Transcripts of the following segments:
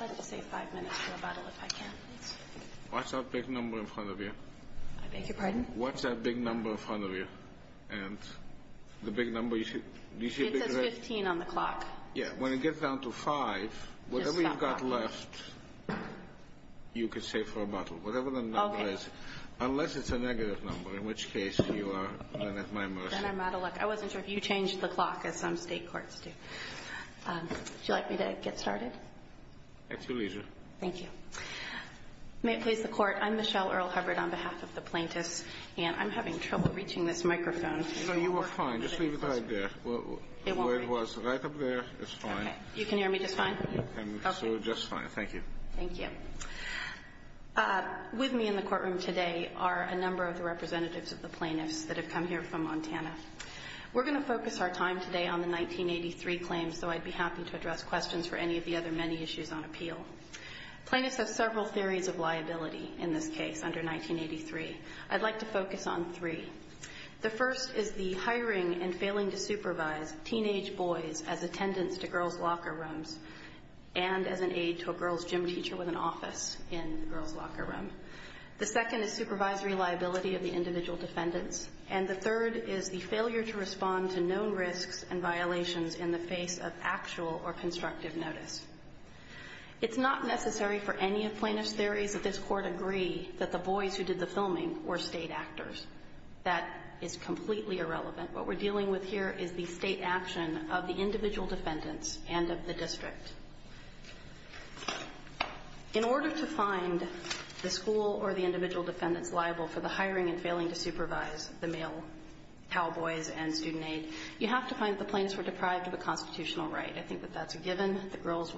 I'd like to say five minutes for a bottle if I can, please. What's that big number in front of you? I beg your pardon? What's that big number in front of you? It says 15 on the clock. Yeah, when it gets down to five, whatever you've got left, you can save for a bottle. Whatever the number is, unless it's a negative number, in which case you are at my mercy. Then I'm out of luck. I wasn't sure if you changed the clock as some state courts do. Would you like me to get started? At your leisure. Thank you. May it please the Court, I'm Michelle Earl Hubbard on behalf of the plaintiffs, and I'm having trouble reaching this microphone. So you are fine. Just leave it right there. It won't reach it. Where it was, right up there, is fine. Okay. You can hear me just fine? You can, so just fine. Thank you. Thank you. With me in the courtroom today are a number of the representatives of the plaintiffs that have come here from Montana. We're going to focus our time today on the 1983 claims, so I'd be happy to address questions for any of the other many issues on appeal. Plaintiffs have several theories of liability in this case under 1983. I'd like to focus on three. The first is the hiring and failing to supervise teenage boys as attendants to girls' locker rooms and as an aide to a girls' gym teacher with an office in the girls' locker room. The second is supervisory liability of the individual defendants, and the third is the failure to respond to known risks and violations in the face of actual or constructive notice. It's not necessary for any of plaintiff's theories that this Court agree that the boys who did the filming were state actors. That is completely irrelevant. What we're dealing with here is the state action of the individual defendants and of the district. In order to find the school or the individual defendants liable for the hiring and failing to supervise the male cowboys and student aide, you have to find that the plaintiffs were deprived of a constitutional right. I think that that's a given. The girls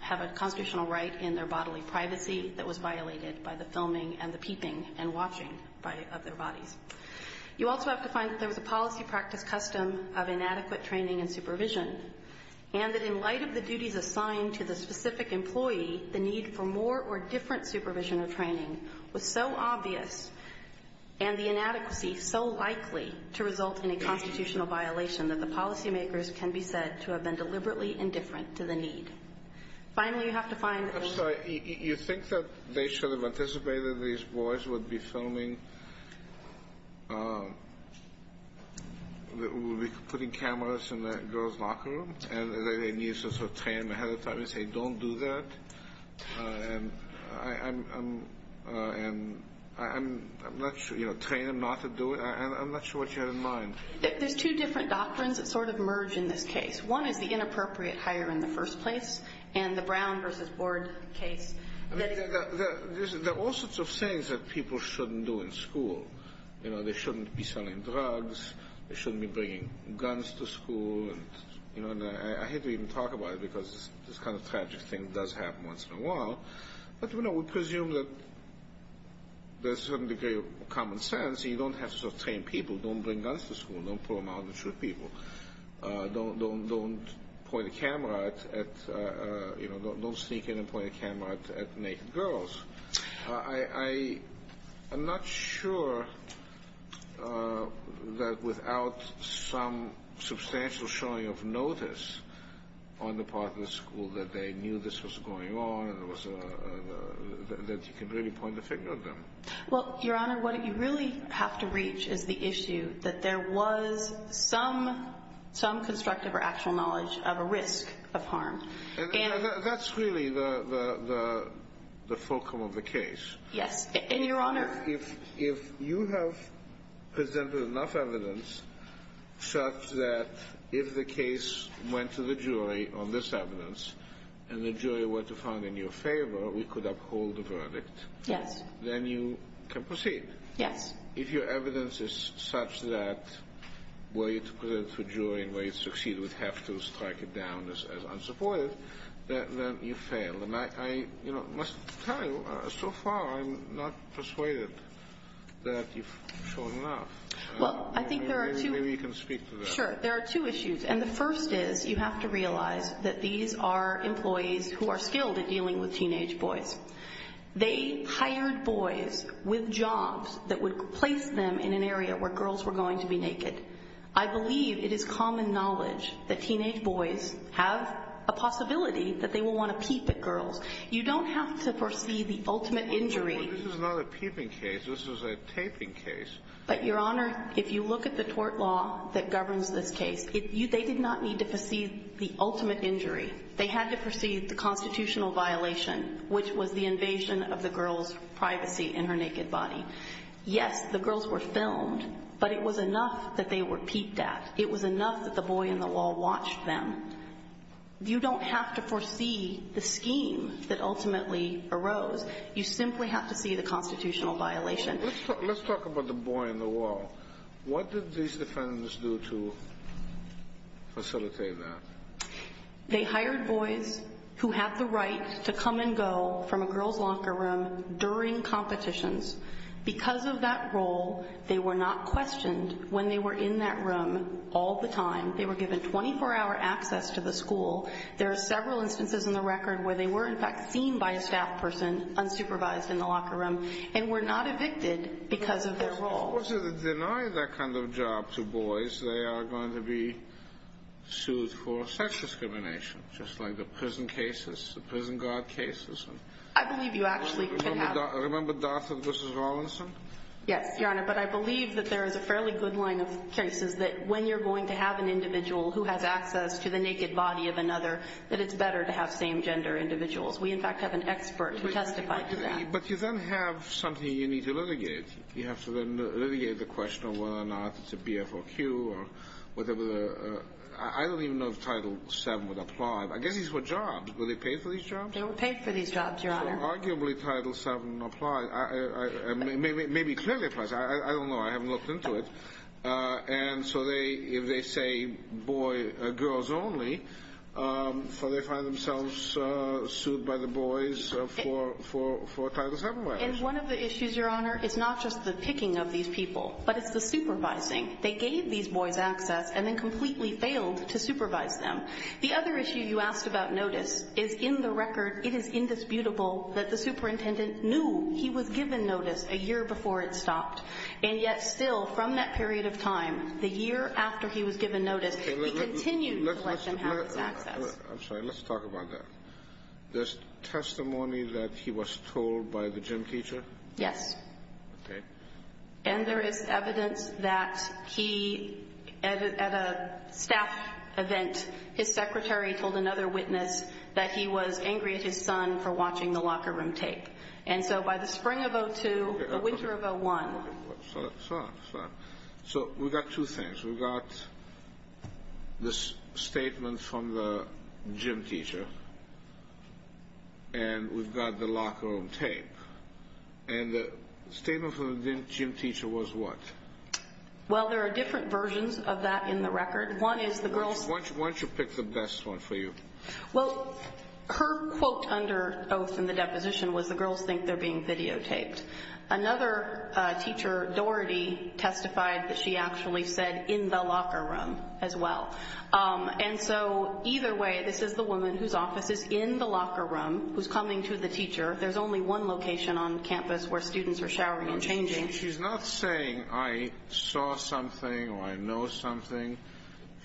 have a constitutional right in their bodily privacy that was violated by the filming and the peeping and watching of their bodies. You also have to find that there was a policy practice custom of inadequate training and supervision and that in light of the duties assigned to the specific employee, the need for more or different supervision or training was so obvious, and the inadequacy so likely to result in a constitutional violation, that the policymakers can be said to have been deliberately indifferent to the need. Finally, you have to find... I'm sorry. You think that they should have anticipated these boys would be putting cameras in that girl's locker room and that they need to sort of train them ahead of time and say, don't do that, and train them not to do it? I'm not sure what you had in mind. There's two different doctrines that sort of merge in this case. One is the inappropriate hire in the first place, and the Brown versus Board case. There are all sorts of things that people shouldn't do in school. They shouldn't be selling drugs. They shouldn't be bringing guns to school. I hate to even talk about it because this kind of tragic thing does happen once in a while, but we presume that there's a certain degree of common sense. You don't have to sort of train people. Don't bring guns to school. Don't pull them out and shoot people. Don't point a camera at, you know, don't sneak in and point a camera at naked girls. I'm not sure that without some substantial showing of notice on the part of the school that they knew this was going on, that you can really point the finger at them. Well, Your Honor, what you really have to reach is the issue that there was some constructive or actual knowledge of a risk of harm. That's really the fulcrum of the case. Yes. And, Your Honor. If you have presented enough evidence such that if the case went to the jury on this evidence and the jury were to find in your favor, we could uphold the verdict. Yes. Then you can proceed. Yes. If your evidence is such that were you to present it to a jury and were you to succeed, we'd have to strike it down as unsupported, then you fail. I must tell you, so far I'm not persuaded that you've shown enough. Well, I think there are two. Maybe you can speak to that. Sure. There are two issues, and the first is you have to realize that these are employees who are skilled at dealing with teenage boys. They hired boys with jobs that would place them in an area where girls were going to be naked. I believe it is common knowledge that teenage boys have a possibility that they will want to peep at girls. You don't have to perceive the ultimate injury. This is not a peeping case. This is a taping case. But, Your Honor, if you look at the tort law that governs this case, they did not need to perceive the ultimate injury. They had to perceive the constitutional violation, which was the invasion of the girl's privacy in her naked body. Yes, the girls were filmed, but it was enough that they were peeped at. It was enough that the boy in the wall watched them. You don't have to foresee the scheme that ultimately arose. You simply have to see the constitutional violation. Let's talk about the boy in the wall. What did these defendants do to facilitate that? They hired boys who had the right to come and go from a girl's locker room during competitions. Because of that role, they were not questioned when they were in that room all the time. They were given 24-hour access to the school. There are several instances in the record where they were, in fact, seen by a staff person unsupervised in the locker room and were not evicted because of their role. Well, to deny that kind of job to boys, they are going to be sued for sex discrimination, just like the prison cases, the prison guard cases. I believe you actually could have. Remember Darth and Mrs. Rawlinson? Yes, Your Honor, but I believe that there is a fairly good line of cases that when you're going to have an individual who has access to the naked body of another, that it's better to have same-gender individuals. We, in fact, have an expert who testified to that. But you then have something you need to litigate. You have to then litigate the question of whether or not it's a BFOQ or whatever. I don't even know if Title VII would apply. I guess these were jobs. Were they paid for these jobs? They were paid for these jobs, Your Honor. So arguably, Title VII applies. Maybe it clearly applies. I don't know. I haven't looked into it. And so if they say, boy, girls only, so they find themselves sued by the boys for Title VII violations. And one of the issues, Your Honor, is not just the picking of these people, but it's the supervising. They gave these boys access and then completely failed to supervise them. The other issue you asked about notice is, in the record, it is indisputable that the superintendent knew he was given notice a year before it stopped. And yet, still, from that period of time, the year after he was given notice, he continued to let them have this access. I'm sorry. Let's talk about that. There's testimony that he was told by the gym teacher? Yes. Okay. And there is evidence that he, at a staff event, his secretary told another witness that he was angry at his son for watching the locker room tape. And so by the spring of 02, the winter of 01. So we've got two things. We've got the statement from the gym teacher, and we've got the locker room tape. And the statement from the gym teacher was what? Well, there are different versions of that in the record. One is the girls. Why don't you pick the best one for you? Well, her quote under oath in the deposition was the girls think they're being videotaped. Another teacher, Doherty, testified that she actually said in the locker room as well. And so either way, this is the woman whose office is in the locker room who's coming to the teacher. There's only one location on campus where students are showering and changing. She's not saying I saw something or I know something.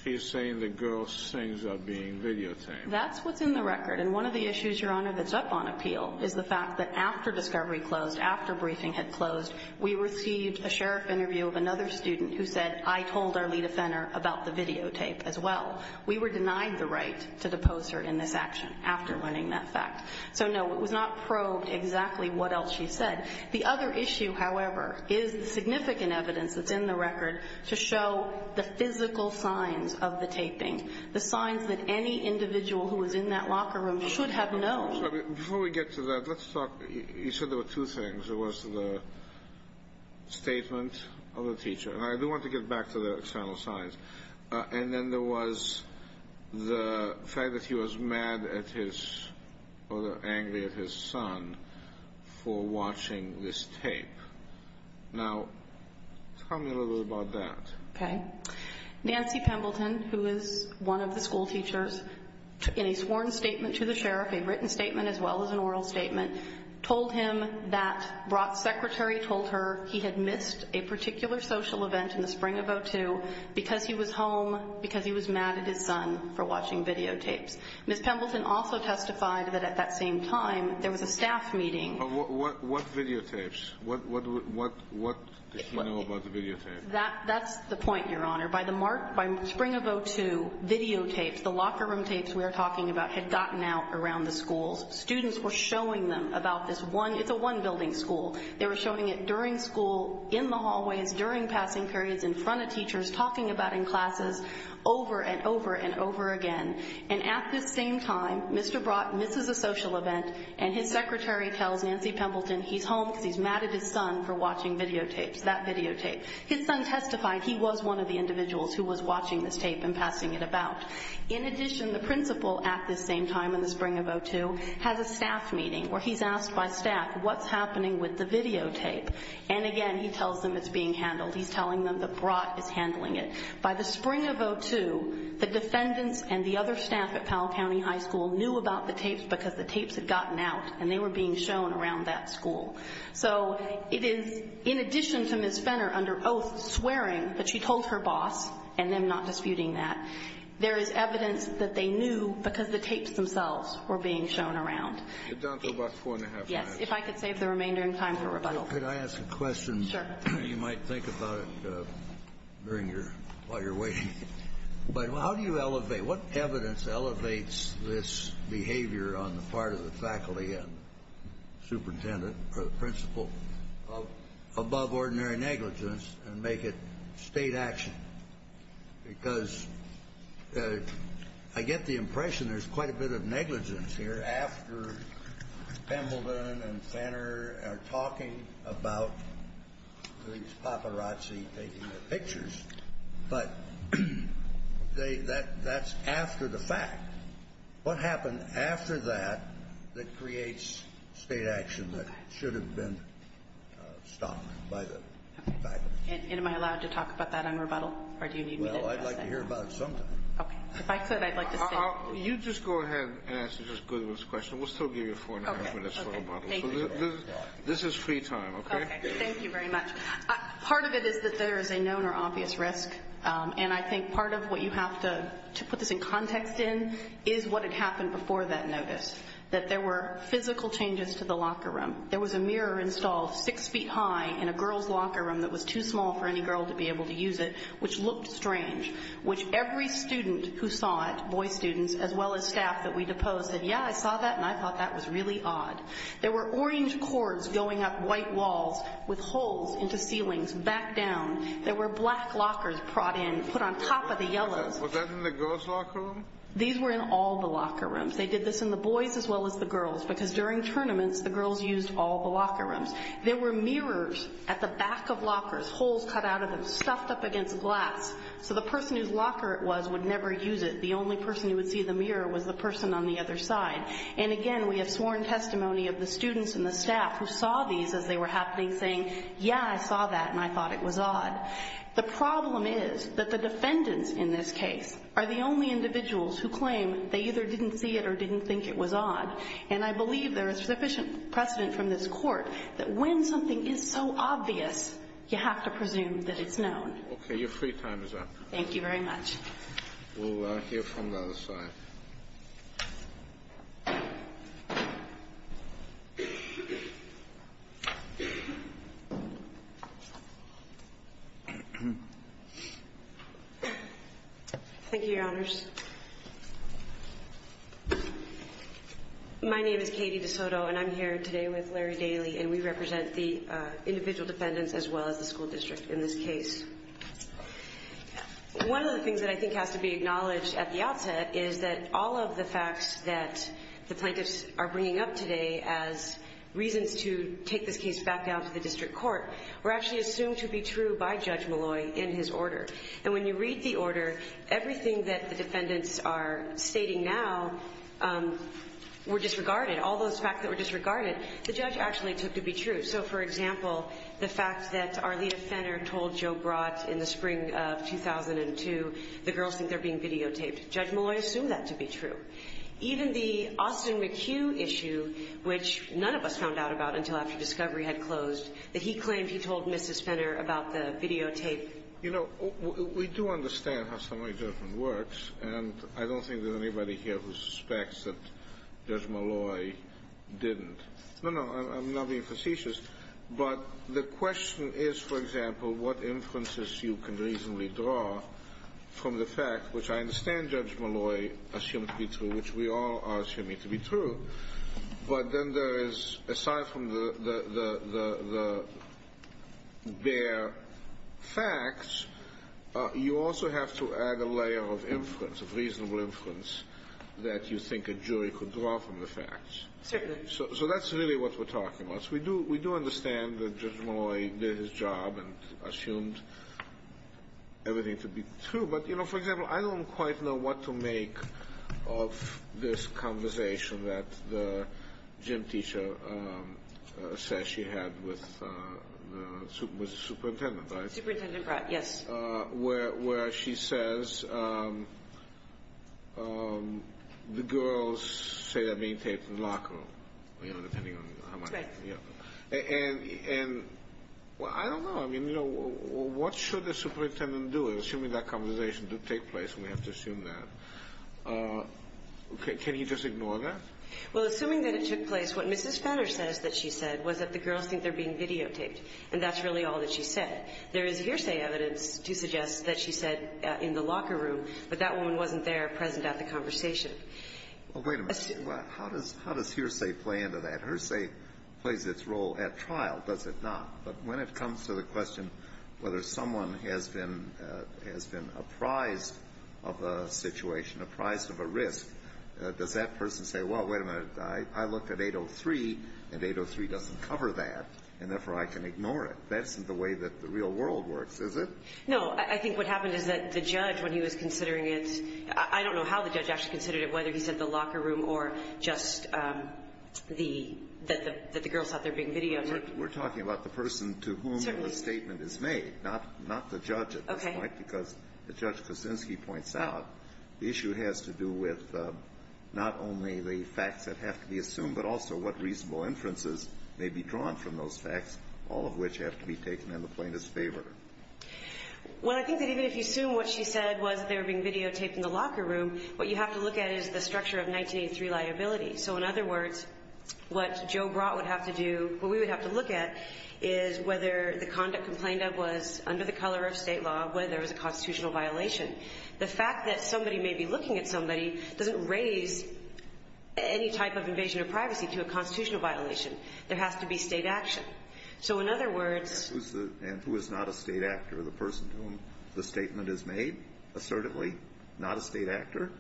She's saying the girls' things are being videotaped. That's what's in the record. And one of the issues, Your Honor, that's up on appeal is the fact that after discovery closed, after briefing had closed, we received a sheriff interview of another student who said, I told Arlita Fenner about the videotape as well. We were denied the right to depose her in this action after learning that fact. So, no, it was not probed exactly what else she said. The other issue, however, is the significant evidence that's in the record to show the physical signs of the taping, the signs that any individual who was in that locker room should have known. Before we get to that, let's talk. You said there were two things. There was the statement of the teacher. And I do want to get back to the external signs. And then there was the fact that he was mad at his or angry at his son for watching this tape. Now, tell me a little bit about that. Okay. Nancy Pembleton, who is one of the schoolteachers, in a sworn statement to the sheriff, a written statement as well as an oral statement, told him that Brock's secretary told her he had missed a particular social event in the spring of 2002 because he was home, because he was mad at his son for watching videotapes. Ms. Pembleton also testified that at that same time there was a staff meeting. What videotapes? What did he know about the videotapes? That's the point, Your Honor. By the spring of 2002, videotapes, the locker room tapes we are talking about, had gotten out around the schools. Students were showing them about this one. It's a one-building school. They were showing it during school, in the hallways, during passing periods, in front of teachers, talking about it in classes, over and over and over again. And at this same time, Mr. Brock misses a social event, and his secretary tells Nancy Pembleton he's home because he's mad at his son for watching videotapes, that videotape. His son testified he was one of the individuals who was watching this tape and passing it about. In addition, the principal at this same time, in the spring of 2002, has a staff meeting where he's asked by staff what's happening with the videotape. And again, he tells them it's being handled. He's telling them that Brock is handling it. By the spring of 2002, the defendants and the other staff at Powell County High School knew about the tapes because the tapes had gotten out, and they were being shown around that school. So it is, in addition to Ms. Fenner, under oath, swearing that she told her boss and them not disputing that, there is evidence that they knew because the tapes themselves were being shown around. You're down to about four and a half minutes. Yes, if I could save the remainder in time for rebuttal. Could I ask a question? Sure. You might think about it while you're waiting. But how do you elevate? What evidence elevates this behavior on the part of the faculty and superintendent or the principal above ordinary negligence and make it state action? Because I get the impression there's quite a bit of negligence here after Pembleton and Fenner are talking about these paparazzi taking the pictures. But that's after the fact. What happened after that that creates state action that should have been stopped by the faculty? And am I allowed to talk about that on rebuttal? Or do you need me to address that? Well, I'd like to hear about it sometime. Okay. If I could, I'd like to stay. You just go ahead and ask Ms. Goodwin's question. We'll still give you four and a half minutes for rebuttal. Okay. Thank you. This is free time, okay? Okay. Thank you very much. Part of it is that there is a known or obvious risk, and I think part of what you have to put this in context in is what had happened before that notice, that there were physical changes to the locker room. There was a mirror installed six feet high in a girls' locker room that was too small for any girl to be able to use it, which looked strange, which every student who saw it, boy students as well as staff that we deposed said, yeah, I saw that, and I thought that was really odd. There were orange cords going up white walls with holes into ceilings back down. There were black lockers brought in, put on top of the yellows. Was that in the girls' locker room? These were in all the locker rooms. They did this in the boys' as well as the girls', because during tournaments, the girls' used all the locker rooms. There were mirrors at the back of lockers, holes cut out of them, stuffed up against glass, so the person whose locker it was would never use it. The only person who would see the mirror was the person on the other side. And, again, we have sworn testimony of the students and the staff who saw these as they were happening, saying, yeah, I saw that, and I thought it was odd. The problem is that the defendants in this case are the only individuals who claim they either didn't see it or didn't think it was odd. And I believe there is sufficient precedent from this court that when something is so obvious, you have to presume that it's known. Okay. Your free time is up. Thank you very much. We'll hear from the other side. Thank you, Your Honors. My name is Katie DeSoto, and I'm here today with Larry Daly, and we represent the individual defendants as well as the school district in this case. One of the things that I think has to be acknowledged at the outset is that all of the facts that the plaintiffs are bringing up today as reasons to take this case back down to the district court were actually assumed to be true by Judge Malloy in his order. And when you read the order, everything that the defendants are stating now were disregarded. All those facts that were disregarded, the judge actually took to be true. So, for example, the fact that Arlita Fenner told Joe Brott in the spring of 2002 the girls think they're being videotaped, Judge Malloy assumed that to be true. Even the Austin McHugh issue, which none of us found out about until after discovery had closed, that he claimed he told Mrs. Fenner about the videotape. You know, we do understand how summary judgment works, and I don't think there's anybody here who suspects that Judge Malloy didn't. No, no, I'm not being facetious. But the question is, for example, what inferences you can reasonably draw from the fact, which I understand Judge Malloy assumed to be true, which we all are assuming to be true. But then there is, aside from the bare facts, you also have to add a layer of inference, of reasonable inference, that you think a jury could draw from the facts. Certainly. So that's really what we're talking about. We do understand that Judge Malloy did his job and assumed everything to be true. But, you know, for example, I don't quite know what to make of this conversation that the gym teacher says she had with the superintendent. Superintendent Brott, yes. Where she says the girls say they're being taped in the locker room, you know, depending on how much. That's right. And I don't know. I mean, you know, what should the superintendent do? Assuming that conversation did take place, we have to assume that. Can he just ignore that? Well, assuming that it took place, what Mrs. Fenner says that she said was that the girls think they're being videotaped, and that's really all that she said. There is hearsay evidence to suggest that she said in the locker room, but that woman wasn't there present at the conversation. Well, wait a minute. How does hearsay play into that? Hearsay plays its role at trial, does it not? But when it comes to the question whether someone has been apprised of a situation, apprised of a risk, does that person say, well, wait a minute, I looked at 803, and 803 doesn't cover that, and therefore I can ignore it? That isn't the way that the real world works, is it? No. I think what happened is that the judge, when he was considering it, I don't know how the judge actually considered it, whether he said the locker room or just that the girls thought they were being videotaped. We're talking about the person to whom the statement is made, not the judge at this point. Okay. Because, as Judge Kosinski points out, the issue has to do with not only the facts that have to be assumed, but also what reasonable inferences may be drawn from those facts, all of which have to be taken in the plaintiff's favor. Well, I think that even if you assume what she said was that they were being videotaped in the locker room, what you have to look at is the structure of 1983 liability. So, in other words, what Joe Brott would have to do, what we would have to look at, is whether the conduct complained of was under the color of state law, whether it was a constitutional violation. The fact that somebody may be looking at somebody doesn't raise any type of invasion of privacy to a constitutional violation. There has to be state action. So, in other words – And who is not a state actor? The person to whom the statement is made, assertively, not a state actor?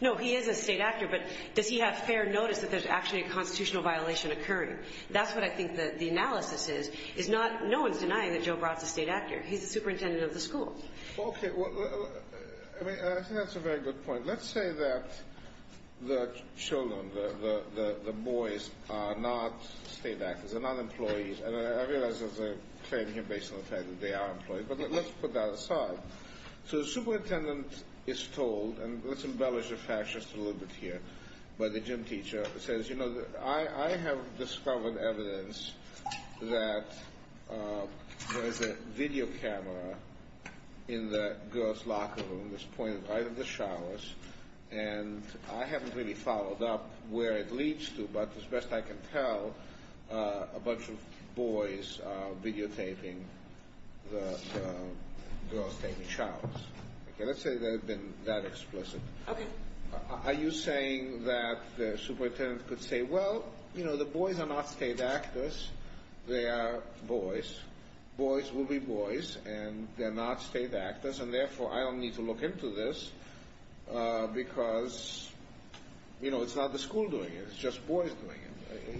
No, he is a state actor, but does he have fair notice that there's actually a constitutional violation occurring? That's what I think the analysis is. No one's denying that Joe Brott's a state actor. He's the superintendent of the school. Okay. I mean, I think that's a very good point. Let's say that the children, the boys, are not state actors. They're not employees. And I realize that's a claim here based on the fact that they are employees, but let's put that aside. So, the superintendent is told – and let's embellish the fact just a little bit here by the gym teacher – I have discovered evidence that there's a video camera in the girls' locker room that's pointed right at the showers, and I haven't really followed up where it leads to, but as best I can tell, a bunch of boys are videotaping the girls taking showers. Okay, let's say they've been that explicit. Okay. Are you saying that the superintendent could say, well, you know, the boys are not state actors. They are boys. Boys will be boys, and they're not state actors, and therefore, I don't need to look into this because, you know, it's not the school doing it. It's just boys doing it.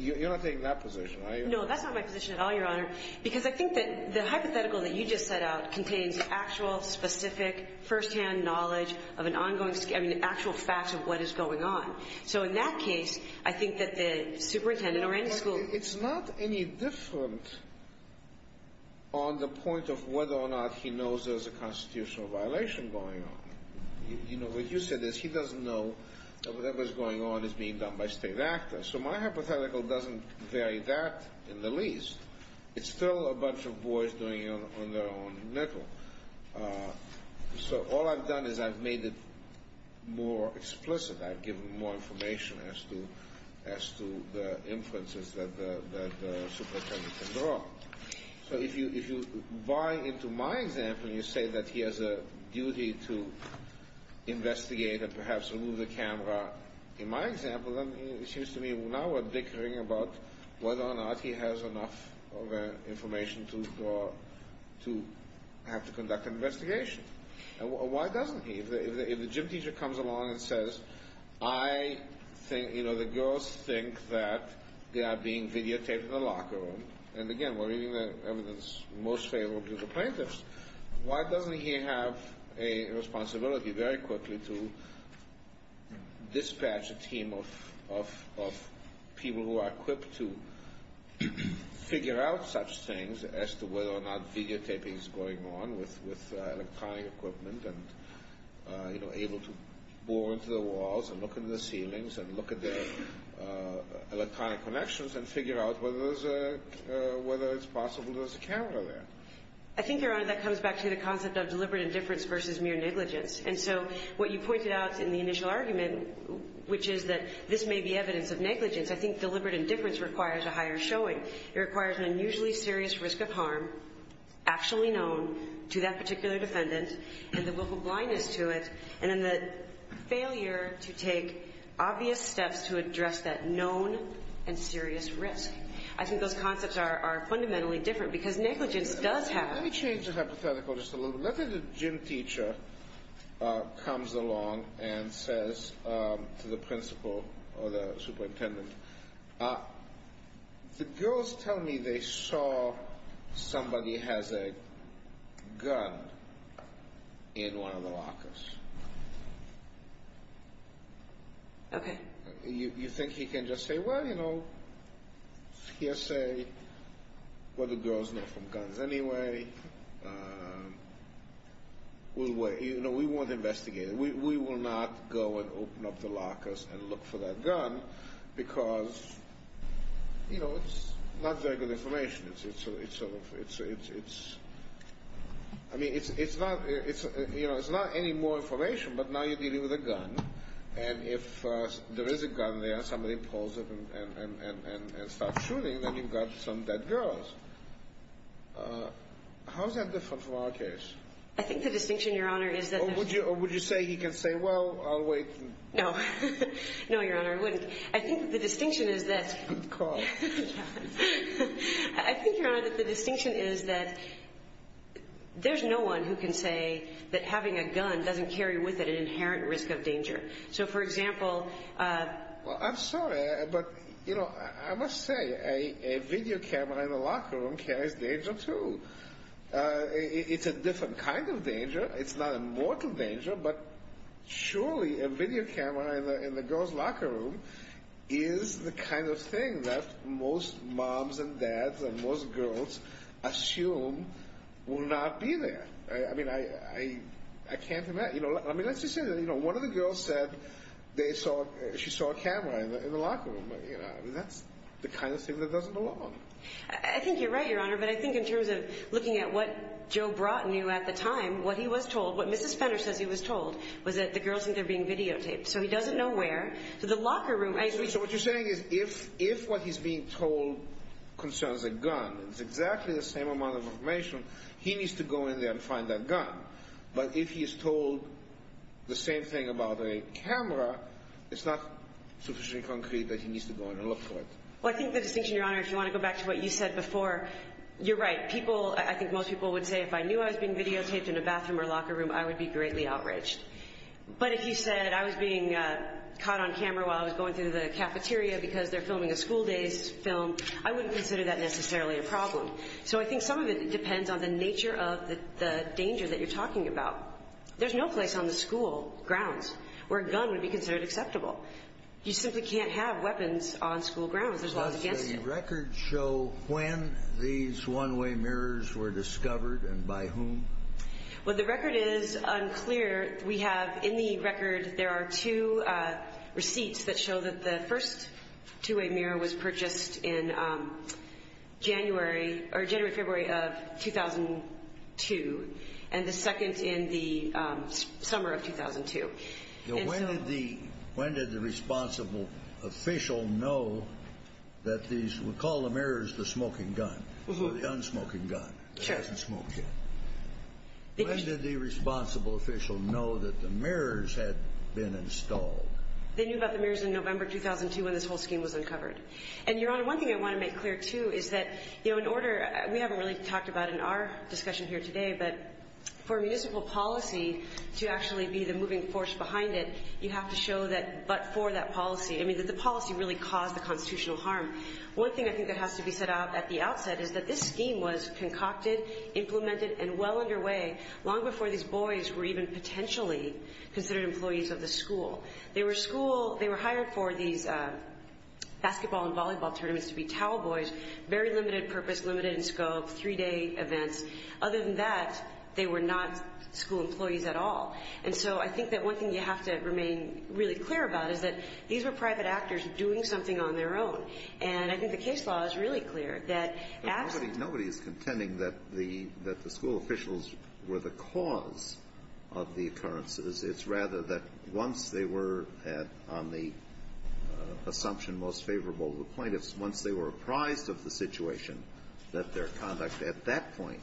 You're not taking that position, are you? No, that's not my position at all, Your Honor, because I think that the hypothetical that you just set out contains actual, specific, firsthand knowledge of an ongoing – I mean, actual facts of what is going on. So, in that case, I think that the superintendent or any school – It's not any different on the point of whether or not he knows there's a constitutional violation going on. You know, what you said is he doesn't know that whatever's going on is being done by state actors. So, my hypothetical doesn't vary that in the least. It's still a bunch of boys doing it on their own network. So, all I've done is I've made it more explicit. I've given more information as to the inferences that the superintendent can draw. So, if you buy into my example and you say that he has a duty to investigate and perhaps remove the camera in my example, then it seems to me now we're bickering about whether or not he has enough information to have to conduct an investigation. And why doesn't he? If the gym teacher comes along and says, I think – you know, the girls think that they are being videotaped in the locker room. And, again, we're reading the evidence most favorable to the plaintiffs. Why doesn't he have a responsibility very quickly to dispatch a team of people who are equipped to figure out such things as to whether or not videotaping is going on with electronic equipment and, you know, able to bore into the walls and look into the ceilings and look at the electronic connections and figure out whether it's possible there's a camera there. I think, Your Honor, that comes back to the concept of deliberate indifference versus mere negligence. And so what you pointed out in the initial argument, which is that this may be evidence of negligence, I think deliberate indifference requires a higher showing. It requires an unusually serious risk of harm actually known to that particular defendant and the vocal blindness to it and then the failure to take obvious steps to address that known and serious risk. I think those concepts are fundamentally different because negligence does happen. Let me change the hypothetical just a little bit. Let's say the gym teacher comes along and says to the principal or the superintendent, the girls tell me they saw somebody has a gun in one of the lockers. Okay. You think he can just say, well, you know, he'll say, well, the girls know from guns anyway. We won't investigate it. We will not go and open up the lockers and look for that gun because, you know, it's not very good information. I mean, it's not any more information, but now you're dealing with a gun. And if there is a gun there, somebody pulls it and starts shooting, then you've got some dead girls. How is that different from our case? I think the distinction, Your Honor, is that the – Or would you say he can say, well, I'll wait? No. No, Your Honor, I wouldn't. I think the distinction is that – Good call. I think, Your Honor, that the distinction is that there's no one who can say that having a gun doesn't carry with it an inherent risk of danger. So, for example – Well, I'm sorry, but, you know, I must say a video camera in the locker room carries danger, too. It's not a mortal danger, but surely a video camera in the girl's locker room is the kind of thing that most moms and dads and most girls assume will not be there. I mean, I can't imagine – I mean, let's just say that, you know, one of the girls said they saw – she saw a camera in the locker room. I mean, that's the kind of thing that doesn't belong. I think you're right, Your Honor, but I think in terms of looking at what Joe brought and knew at the time, what he was told, what Mrs. Fenner says he was told, was that the girls think they're being videotaped. So he doesn't know where. So the locker room – So what you're saying is if what he's being told concerns a gun, it's exactly the same amount of information, he needs to go in there and find that gun. But if he is told the same thing about a camera, it's not sufficiently concrete that he needs to go in and look for it. Well, I think the distinction, Your Honor, if you want to go back to what you said before, you're right. People – I think most people would say if I knew I was being videotaped in a bathroom or locker room, I would be greatly outraged. But if you said I was being caught on camera while I was going through the cafeteria because they're filming a school-based film, I wouldn't consider that necessarily a problem. So I think some of it depends on the nature of the danger that you're talking about. There's no place on the school grounds where a gun would be considered acceptable. You simply can't have weapons on school grounds. There's laws against it. Does the record show when these one-way mirrors were discovered and by whom? Well, the record is unclear. We have – in the record, there are two receipts that show that the first two-way mirror was purchased in January – or January, February of 2002, and the second in the summer of 2002. When did the – when did the responsible official know that these – we call the mirrors the smoking gun, the unsmoking gun. Sure. It doesn't smoke yet. When did the responsible official know that the mirrors had been installed? They knew about the mirrors in November 2002 when this whole scheme was uncovered. And, Your Honor, one thing I want to make clear, too, is that, you know, in order – we haven't really talked about in our discussion here today, but for municipal policy to actually be the moving force behind it, you have to show that but for that policy – I mean, that the policy really caused the constitutional harm. One thing I think that has to be said at the outset is that this scheme was concocted, implemented, and well underway long before these boys were even potentially considered employees of the school. They were school – they were hired for these basketball and volleyball tournaments to be towel boys, very limited purpose, limited in scope, three-day events. Other than that, they were not school employees at all. And so I think that one thing you have to remain really clear about is that these were private actors doing something on their own. And I think the case law is really clear that – Nobody is contending that the school officials were the cause of the occurrences. It's rather that once they were on the assumption most favorable to the plaintiffs, once they were apprised of the situation, that their conduct at that point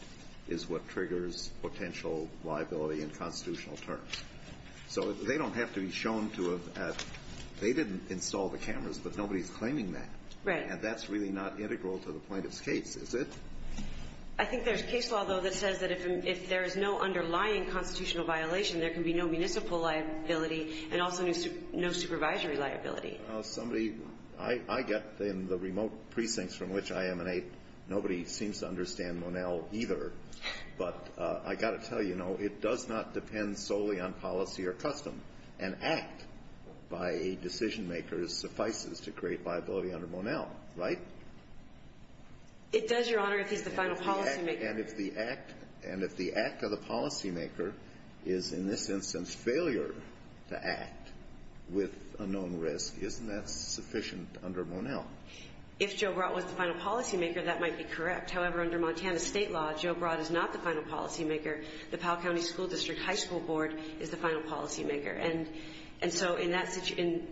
is what triggers potential liability in constitutional terms. So they don't have to be shown to have – they didn't install the cameras, but nobody is claiming that. Right. And that's really not integral to the plaintiff's case, is it? I think there's case law, though, that says that if there is no underlying constitutional violation, there can be no municipal liability and also no supervisory liability. Somebody – I get in the remote precincts from which I emanate, nobody seems to understand Monell either. But I got to tell you, no, it does not depend solely on policy or custom. An act by a decision maker suffices to create liability under Monell, right? It does, Your Honor, if he's the final policymaker. And if the act of the policymaker is, in this instance, failure to act with a known risk, isn't that sufficient under Monell? If Joe Broad was the final policymaker, that might be correct. However, under Montana state law, Joe Broad is not the final policymaker. The Powell County School District High School Board is the final policymaker. And so in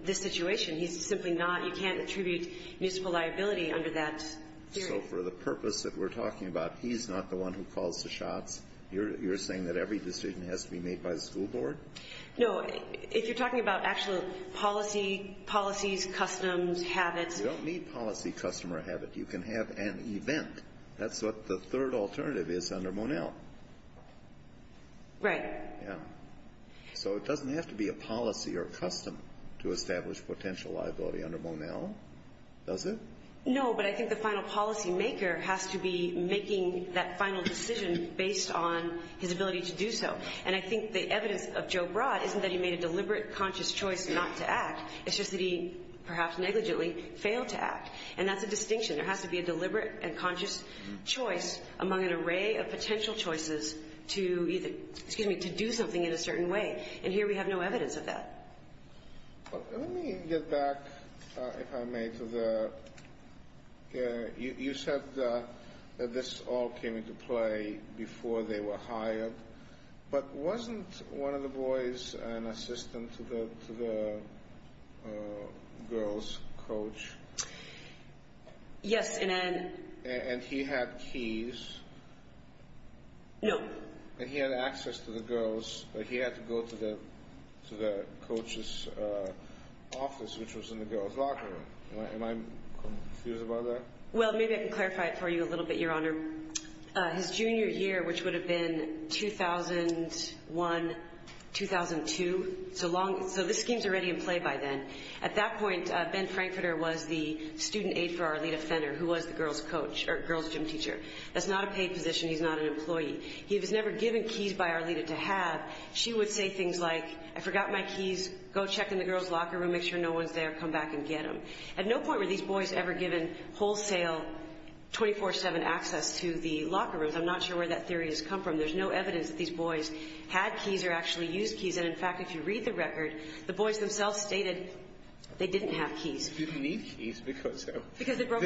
this situation, he's simply not – you can't attribute municipal liability under that theory. So for the purpose that we're talking about, he's not the one who calls the shots? You're saying that every decision has to be made by the school board? No. If you're talking about actual policy, policies, customs, habits – You don't need policy, custom, or habit. You can have an event. That's what the third alternative is under Monell. Right. Yeah. So it doesn't have to be a policy or a custom to establish potential liability under Monell, does it? No, but I think the final policymaker has to be making that final decision based on his ability to do so. And I think the evidence of Joe Broad isn't that he made a deliberate, conscious choice not to act. It's just that he, perhaps negligently, failed to act. And that's a distinction. There has to be a deliberate and conscious choice among an array of potential choices to do something in a certain way. And here we have no evidence of that. Let me get back, if I may, to the – you said that this all came into play before they were hired. But wasn't one of the boys an assistant to the girls' coach? Yes. And he had keys. No. And he had access to the girls, but he had to go to the coach's office, which was in the girls' locker room. Am I confused about that? Well, maybe I can clarify it for you a little bit, Your Honor. His junior year, which would have been 2001, 2002, so this scheme is already in play by then. At that point, Ben Frankfurter was the student aide for Arlita Fenner, who was the girls' coach – or girls' gym teacher. That's not a paid position. He's not an employee. He was never given keys by Arlita to have. She would say things like, I forgot my keys. Go check in the girls' locker room. Make sure no one's there. Come back and get them. At no point were these boys ever given wholesale, 24-7 access to the locker rooms. I'm not sure where that theory has come from. There's no evidence that these boys had keys or actually used keys. In fact, if you read the record, the boys themselves stated they didn't have keys. They didn't need keys because they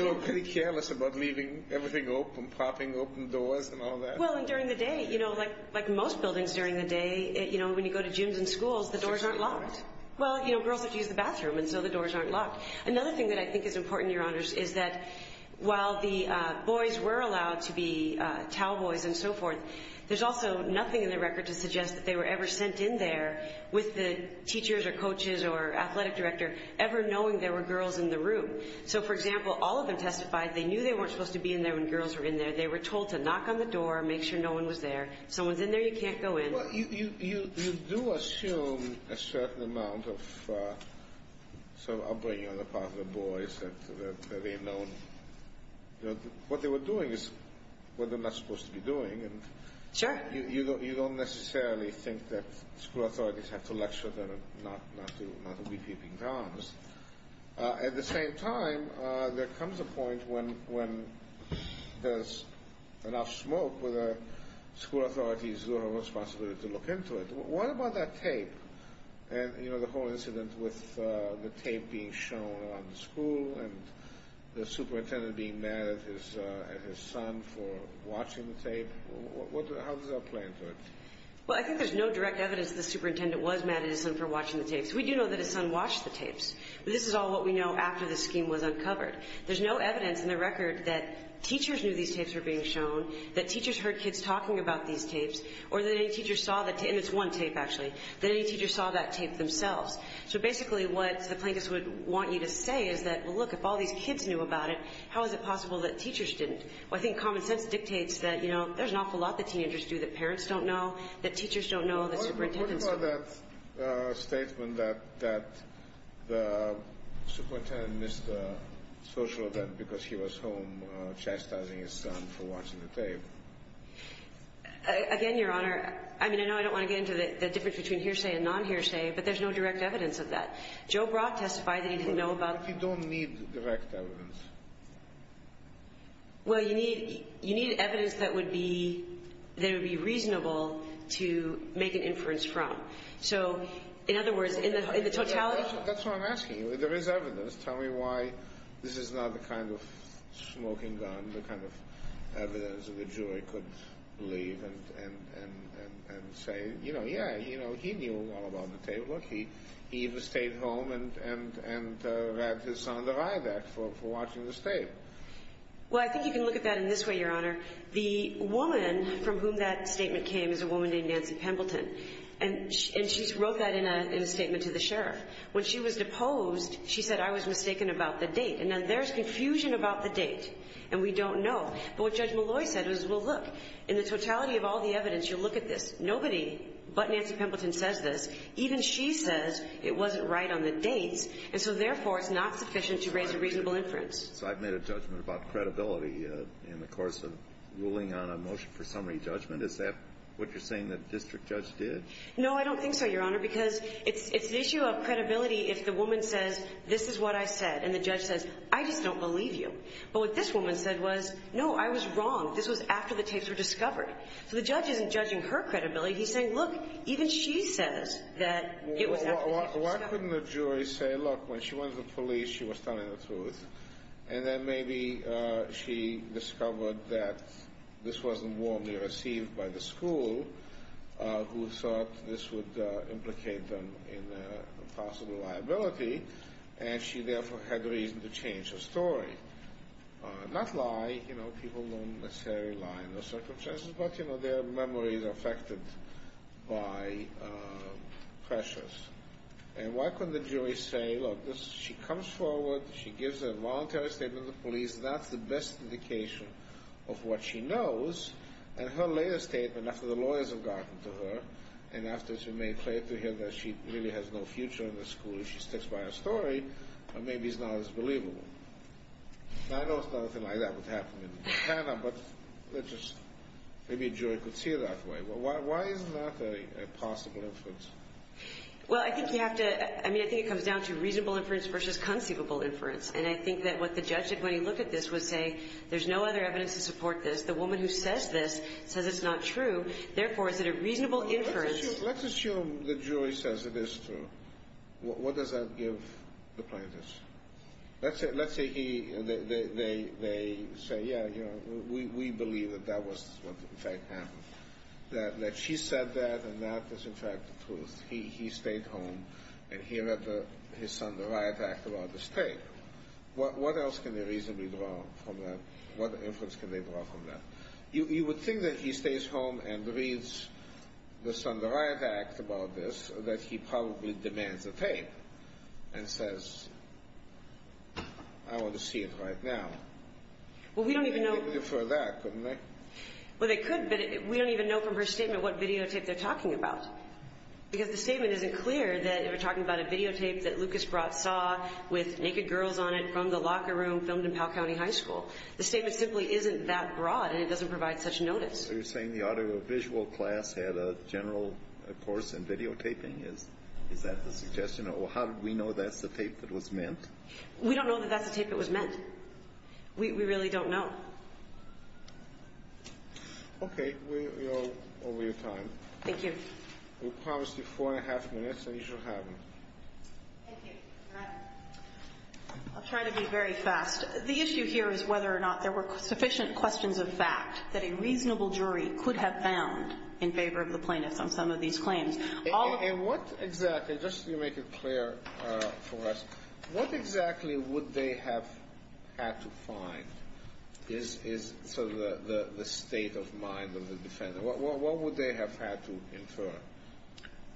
were pretty careless about leaving everything open, popping open doors and all that. During the day, like most buildings during the day, when you go to gyms and schools, the doors aren't locked. Well, girls have to use the bathroom, and so the doors aren't locked. Another thing that I think is important, Your Honors, is that while the boys were allowed to be cowboys and so forth, there's also nothing in the record to suggest that they were ever sent in there with the teachers or coaches or athletic director, ever knowing there were girls in the room. So, for example, all of them testified they knew they weren't supposed to be in there when girls were in there. They were told to knock on the door, make sure no one was there. If someone's in there, you can't go in. Well, you do assume a certain amount of upbringing on the part of the boys that they had known. What they were doing is what they're not supposed to be doing. Sure. You don't necessarily think that school authorities have to lecture them not to be keeping tabs. At the same time, there comes a point when there's enough smoke where the school authorities do have a responsibility to look into it. What about that tape? The whole incident with the tape being shown around the school and the superintendent being mad at his son for watching the tape. How does that play into it? Well, I think there's no direct evidence the superintendent was mad at his son for watching the tapes. We do know that his son watched the tapes, but this is all what we know after the scheme was uncovered. There's no evidence in the record that teachers knew these tapes were being shown, that teachers heard kids talking about these tapes, or that any teacher saw that tape – and it's one tape, actually – that any teacher saw that tape themselves. So basically what the plaintiffs would want you to say is that, well, look, if all these kids knew about it, how is it possible that teachers didn't? Well, I think common sense dictates that there's an awful lot that teenagers do that parents don't know, that teachers don't know, that superintendents don't know. What about that statement that the superintendent missed the social event because he was home chastising his son for watching the tape? Again, Your Honor, I mean, I know I don't want to get into the difference between hearsay and non-hearsay, but there's no direct evidence of that. Joe Brock testified that he didn't know about – What if you don't need direct evidence? Well, you need evidence that would be reasonable to make an inference from. So, in other words, in the totality – and say, you know, yeah, he knew all about the tape. Look, he even stayed home and had his son deride that for watching the tape. Well, I think you can look at that in this way, Your Honor. The woman from whom that statement came is a woman named Nancy Pembleton, and she wrote that in a statement to the sheriff. When she was deposed, she said, I was mistaken about the date. And now there's confusion about the date, and we don't know. But what Judge Malloy said was, well, look, in the totality of all the evidence, you look at this. Nobody but Nancy Pembleton says this. Even she says it wasn't right on the dates, and so, therefore, it's not sufficient to raise a reasonable inference. So I've made a judgment about credibility in the course of ruling on a motion for summary judgment. Is that what you're saying the district judge did? No, I don't think so, Your Honor, because it's the issue of credibility if the woman says, this is what I said, and the judge says, I just don't believe you. But what this woman said was, no, I was wrong. This was after the tapes were discovered. So the judge isn't judging her credibility. He's saying, look, even she says that it was after the tapes were discovered. Well, why couldn't the jury say, look, when she went to the police, she was telling the truth, and then maybe she discovered that this wasn't warmly received by the school, who thought this would implicate them in a possible liability, and she, therefore, had reason to change her story. Not lie. You know, people don't necessarily lie in their circumstances, but, you know, their memories are affected by pressures. And why couldn't the jury say, look, she comes forward, she gives a voluntary statement to the police, that's the best indication of what she knows, and her later statement, after the lawyers have gotten to her, and after she made clear to her that she really has no future in the school, she sticks by her story, and maybe it's not as believable. Now, I know it's not a thing like that would happen in Canada, but let's just, maybe a jury could see it that way. Why is that a possible inference? Well, I think you have to, I mean, I think it comes down to reasonable inference versus conceivable inference. And I think that what the judge did when he looked at this was say, there's no other evidence to support this. The woman who says this says it's not true. Therefore, is it a reasonable inference? Let's assume the jury says it is true. What does that give the plaintiffs? Let's say he, they say, yeah, you know, we believe that that was what, in fact, happened. That she said that, and that is, in fact, the truth. He stayed home, and he let his son, the riot act, go out of the state. What else can they reasonably draw from that? What inference can they draw from that? You would think that he stays home and reads the son, the riot act about this, that he probably demands a tape and says, I want to see it right now. Well, we don't even know. They could defer that, couldn't they? Well, they could, but we don't even know from her statement what videotape they're talking about. Because the statement isn't clear that they're talking about a videotape that Lucas Brott saw with naked girls on it from the locker room filmed in Powell County High School. The statement simply isn't that broad, and it doesn't provide such notice. So you're saying the audiovisual class had a general course in videotaping? Is that the suggestion, or how did we know that's the tape that was meant? We don't know that that's the tape that was meant. We really don't know. Okay. We are over your time. Thank you. We promised you 4 1⁄2 minutes, and you should have them. Thank you. I'll try to be very fast. The issue here is whether or not there were sufficient questions of fact that a reasonable jury could have found in favor of the plaintiffs on some of these claims. And what exactly, just to make it clear for us, what exactly would they have had to find is sort of the state of mind of the defendant? What would they have had to infer?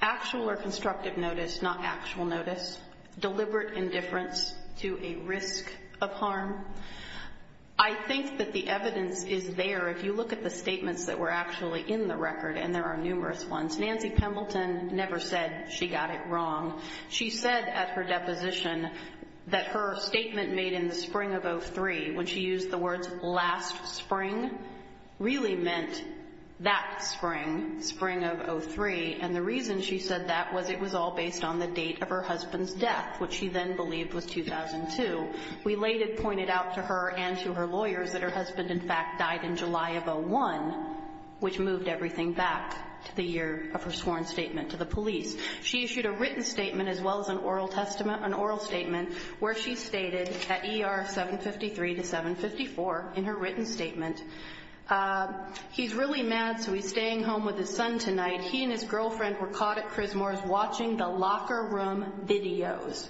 Actual or constructive notice, not actual notice. Deliberate indifference to a risk of harm. I think that the evidence is there. If you look at the statements that were actually in the record, and there are numerous ones, Nancy Pembleton never said she got it wrong. She said at her deposition that her statement made in the spring of 03, when she used the words last spring, really meant that spring, spring of 03. And the reason she said that was it was all based on the date of her husband's death, which she then believed was 2002. We later pointed out to her and to her lawyers that her husband, in fact, died in July of 01, which moved everything back to the year of her sworn statement to the police. She issued a written statement as well as an oral statement where she stated at ER 753 to 754 in her written statement, he's really mad, so he's staying home with his son tonight. He and his girlfriend were caught at Chrismore's watching the locker room videos.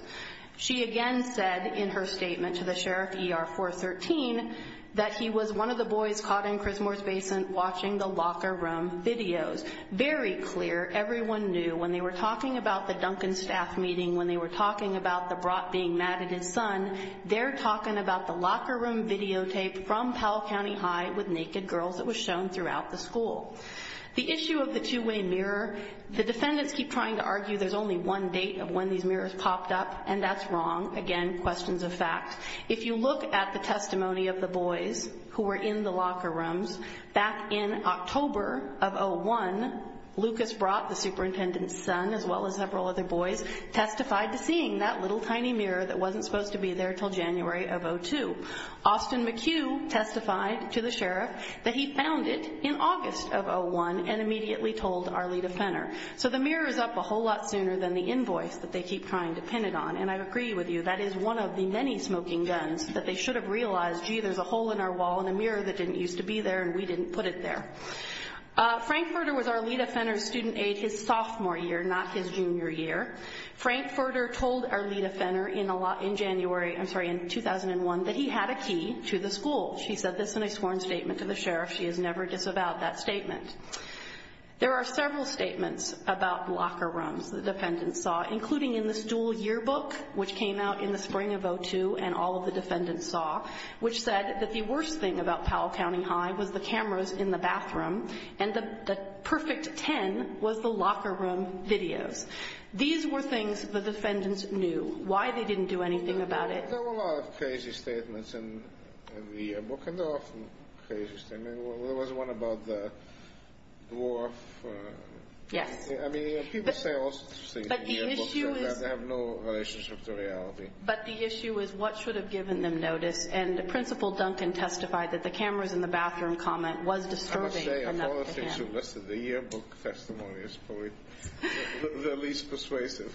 She again said in her statement to the sheriff, ER 413, that he was one of the boys caught in Chrismore's Basin watching the locker room videos. Very clear, everyone knew when they were talking about the Duncan staff meeting, when they were talking about the brat being mad at his son, they're talking about the locker room videotape from Powell County High with naked girls that was shown throughout the school. The issue of the two-way mirror, the defendants keep trying to argue there's only one date of when these mirrors popped up, and that's wrong. Again, questions of fact. If you look at the testimony of the boys who were in the locker rooms, back in October of 01, Lucas Brott, the superintendent's son, as well as several other boys, testified to seeing that little tiny mirror that wasn't supposed to be there until January of 02. Austin McHugh testified to the sheriff that he found it in August of 01 and immediately told Arlita Fenner. So the mirror is up a whole lot sooner than the invoice that they keep trying to pin it on. And I agree with you, that is one of the many smoking guns that they should have realized, gee, there's a hole in our wall and a mirror that didn't used to be there and we didn't put it there. Frank Furter was Arlita Fenner's student aide his sophomore year, not his junior year. Frank Furter told Arlita Fenner in January, I'm sorry, in 2001, that he had a key to the school. She said this in a sworn statement to the sheriff. She has never disavowed that statement. There are several statements about locker rooms the defendants saw, including in this dual yearbook, which came out in the spring of 02 and all of the defendants saw, which said that the worst thing about Powell County High was the cameras in the bathroom and the perfect 10 was the locker room videos. These were things the defendants knew, why they didn't do anything about it. There were a lot of crazy statements in the yearbook and there were some crazy statements. There was one about the dwarf. Yes. I mean, people say all sorts of things in the yearbook, but they have no relationship to reality. But the issue is what should have given them notice, and the principal, Duncan, testified that the cameras in the bathroom comment was disturbing. I must say, of all the things you listed, the yearbook testimony is probably the least persuasive.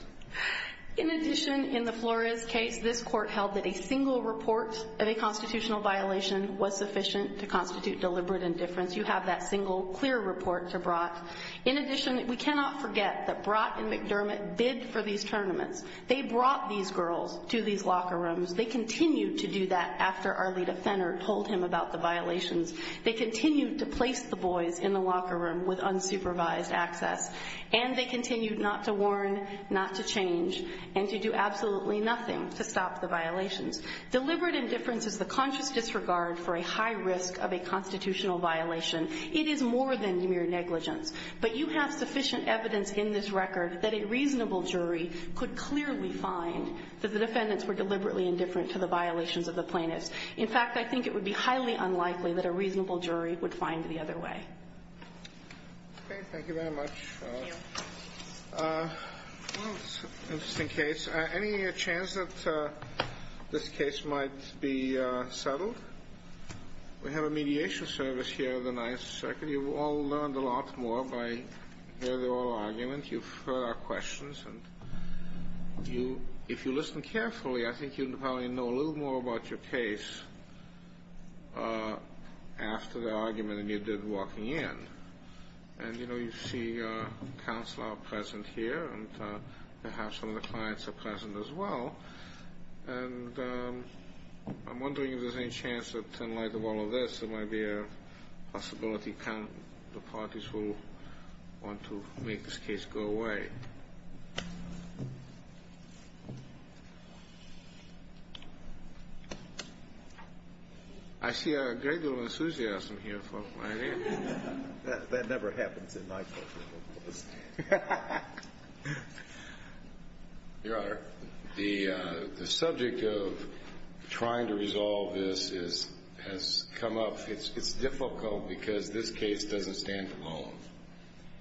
In addition, in the Flores case, this court held that a single report of a constitutional violation was sufficient to constitute deliberate indifference. You have that single clear report to Brott. In addition, we cannot forget that Brott and McDermott bid for these tournaments. They brought these girls to these locker rooms. They continued to do that after Arleta Fenner told him about the violations. They continued to place the boys in the locker room with unsupervised access, and they continued not to warn, not to change, and to do absolutely nothing to stop the violations. Deliberate indifference is the conscious disregard for a high risk of a constitutional violation. It is more than mere negligence. But you have sufficient evidence in this record that a reasonable jury could clearly find that the defendants were deliberately indifferent to the violations of the plaintiffs. In fact, I think it would be highly unlikely that a reasonable jury would find the other way. Okay, thank you very much. Thank you. Well, it's an interesting case. Any chance that this case might be settled? We have a mediation service here at the 9th Circuit. You've all learned a lot more by hearing the oral argument. You've heard our questions, and if you listen carefully, I think you'll probably know a little more about your case after the argument that you did walking in. And, you know, you see a counselor present here, and perhaps some of the clients are present as well. And I'm wondering if there's any chance that, in light of all of this, there might be a possibility the parties will want to make this case go away. I see a great deal of enthusiasm here. That never happens in my courtroom. Your Honor, the subject of trying to resolve this has come up. It's difficult because this case doesn't stand alone.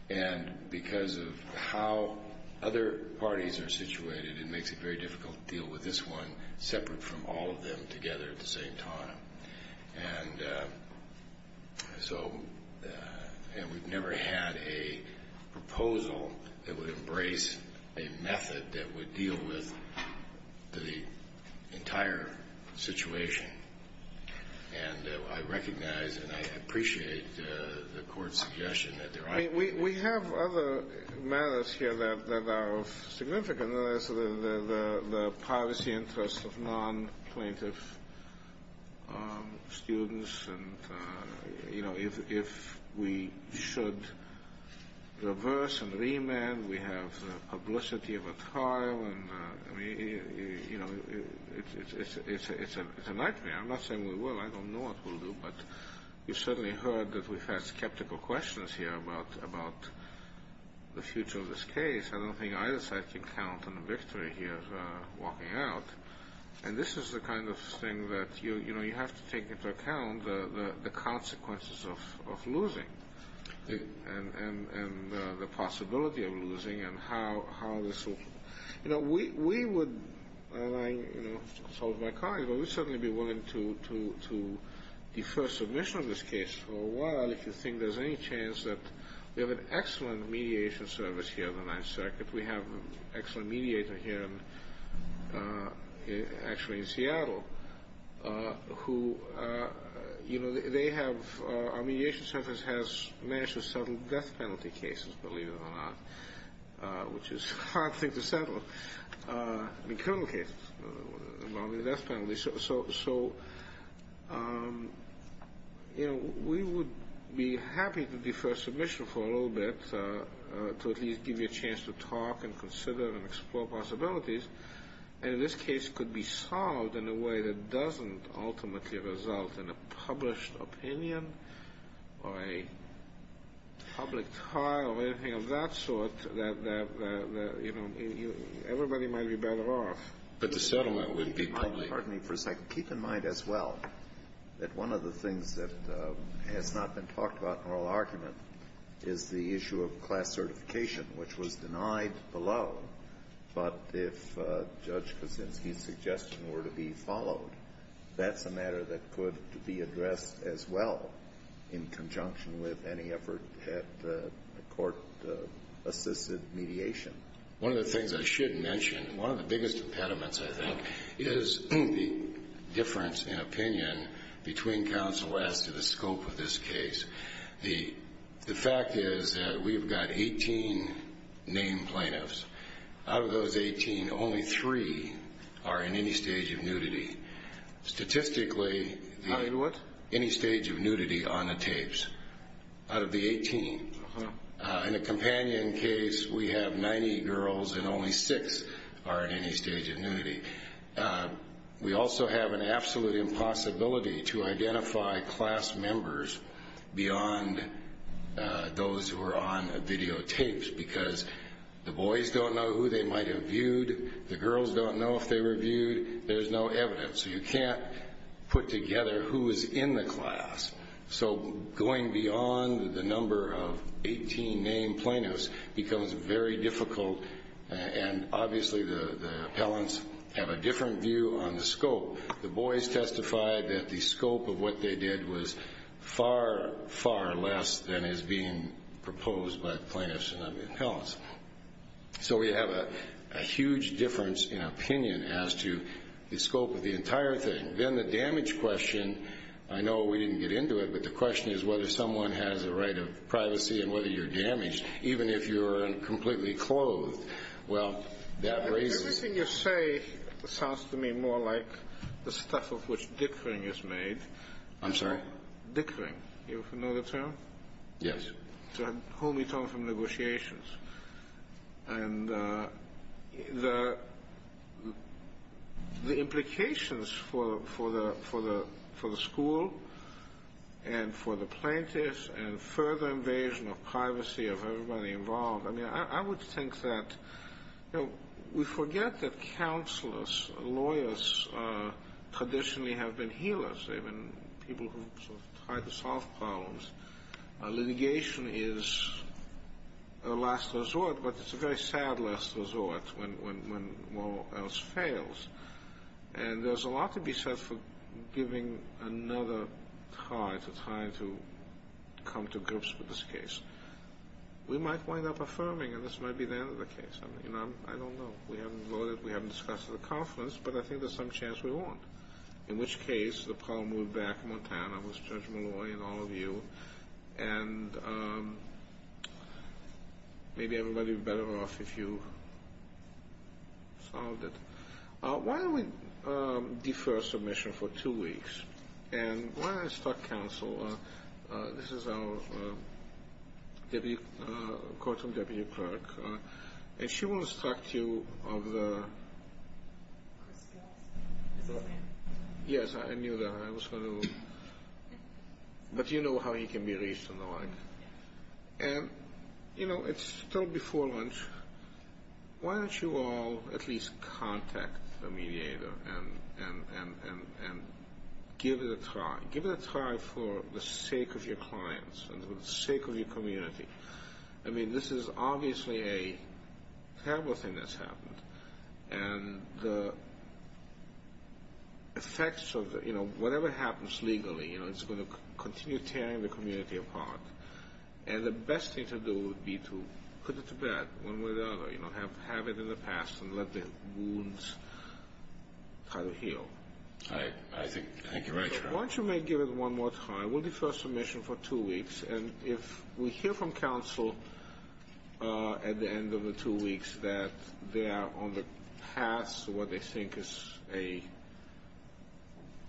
And because of how other parties are situated, it makes it very difficult to deal with this one, separate from all of them together at the same time. And so we've never had a proposal that would embrace a method that would deal with the entire situation. And I recognize and I appreciate the Court's suggestion that there ought to be. There are a number of other matters here that are significant. There's the privacy interests of non-plaintiff students, and, you know, if we should reverse and remand, we have the publicity of a trial, and, you know, it's a nightmare. I'm not saying we will. I don't know what we'll do. But you've certainly heard that we've had skeptical questions here about the future of this case. I don't think either side can count on a victory here walking out. And this is the kind of thing that, you know, you have to take into account the consequences of losing and the possibility of losing and how this will. You know, we would, and I, you know, told my colleagues, we would certainly be willing to defer submission of this case for a while if you think there's any chance that we have an excellent mediation service here in the Ninth Circuit. We have an excellent mediator here actually in Seattle who, you know, they have, our mediation service has managed to settle death penalty cases, believe it or not, which is a hard thing to settle, criminal cases involving death penalties. So, you know, we would be happy to defer submission for a little bit to at least give you a chance to talk and consider and explore possibilities. And this case could be solved in a way that doesn't ultimately result in a published opinion or a public trial or anything of that sort that, you know, everybody might be better off. But the settlement would be public. Pardon me for a second. Keep in mind as well that one of the things that has not been talked about in oral argument is the issue of class certification, which was denied below. But if Judge Kaczynski's suggestion were to be followed, that's a matter that could be addressed as well in conjunction with any effort at court-assisted mediation. One of the things I should mention, one of the biggest impediments, I think, is the difference in opinion between Counsel West and the scope of this case. The fact is that we've got 18 named plaintiffs. Out of those 18, only three are in any stage of nudity. Statistically, any stage of nudity on the tapes. Out of the 18. In a companion case, we have 90 girls and only six are in any stage of nudity. We also have an absolute impossibility to identify class members beyond those who are on the videotapes because the boys don't know who they might have viewed. The girls don't know if they were viewed. There's no evidence. So you can't put together who is in the class. So going beyond the number of 18 named plaintiffs becomes very difficult, and obviously the appellants have a different view on the scope. The boys testified that the scope of what they did was far, far less than is being proposed by the plaintiffs. So we have a huge difference in opinion as to the scope of the entire thing. Then the damage question, I know we didn't get into it, but the question is whether someone has a right of privacy and whether you're damaged, even if you're completely clothed. Well, that raises the question. The first thing you say sounds to me more like the stuff of which dickering is made. I'm sorry? Dickering. Do you know the term? Yes. To whom you talk from negotiations. And the implications for the school and for the plaintiffs and further invasion of privacy of everybody involved, I mean, I would think that we forget that counselors, lawyers traditionally have been healers. They've been people who have tried to solve problems. Litigation is a last resort, but it's a very sad last resort when all else fails. And there's a lot to be said for giving another tie to trying to come to grips with this case. We might wind up affirming, and this might be the end of the case. I don't know. We haven't voted. We haven't discussed it at the conference, but I think there's some chance we won't, in which case the problem would back in Montana with Judge Malloy and all of you, and maybe everybody would be better off if you solved it. Why don't we defer submission for two weeks, and why don't I start counsel. This is our courtroom deputy clerk, and she will instruct you of the Yes, I knew that. I was going to, but you know how he can be reached and the like. And, you know, it's still before lunch. Why don't you all at least contact the mediator and give it a try? Give it a try for the sake of your clients and for the sake of your community. I mean, this is obviously a terrible thing that's happened, and the effects of whatever happens legally, you know, it's going to continue tearing the community apart. And the best thing to do would be to put it to bed one way or the other, you know, have it in the past and let the wounds kind of heal. I think you're right. Why don't you maybe give it one more time? We'll defer submission for two weeks. And if we hear from counsel at the end of the two weeks that they are on the path to what they think is a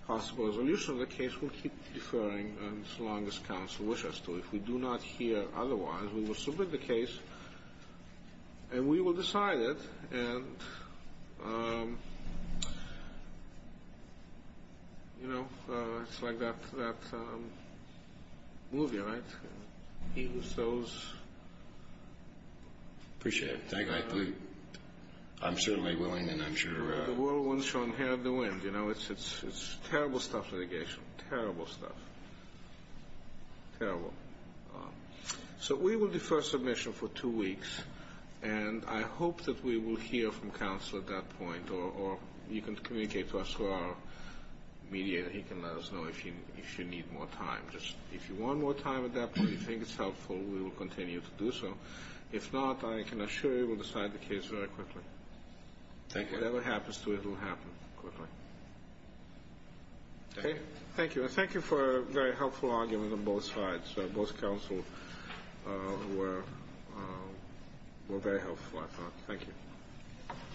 possible resolution of the case, we'll keep deferring as long as counsel wishes to. If we do not hear otherwise, we will submit the case, and we will decide it. And, you know, it's like that movie, right? He who sows. Appreciate it. I'm certainly willing and I'm sure. The whirlwind shall inherit the wind, you know. It's terrible stuff litigation, terrible stuff, terrible. So we will defer submission for two weeks, and I hope that we will hear from counsel at that point, or you can communicate to us through our mediator. He can let us know if you need more time. If you want more time at that point, you think it's helpful, we will continue to do so. If not, I can assure you we'll decide the case very quickly. Whatever happens to it will happen quickly. Okay. Thank you. Thank you for a very helpful argument on both sides. Both counsel were very helpful. Thank you.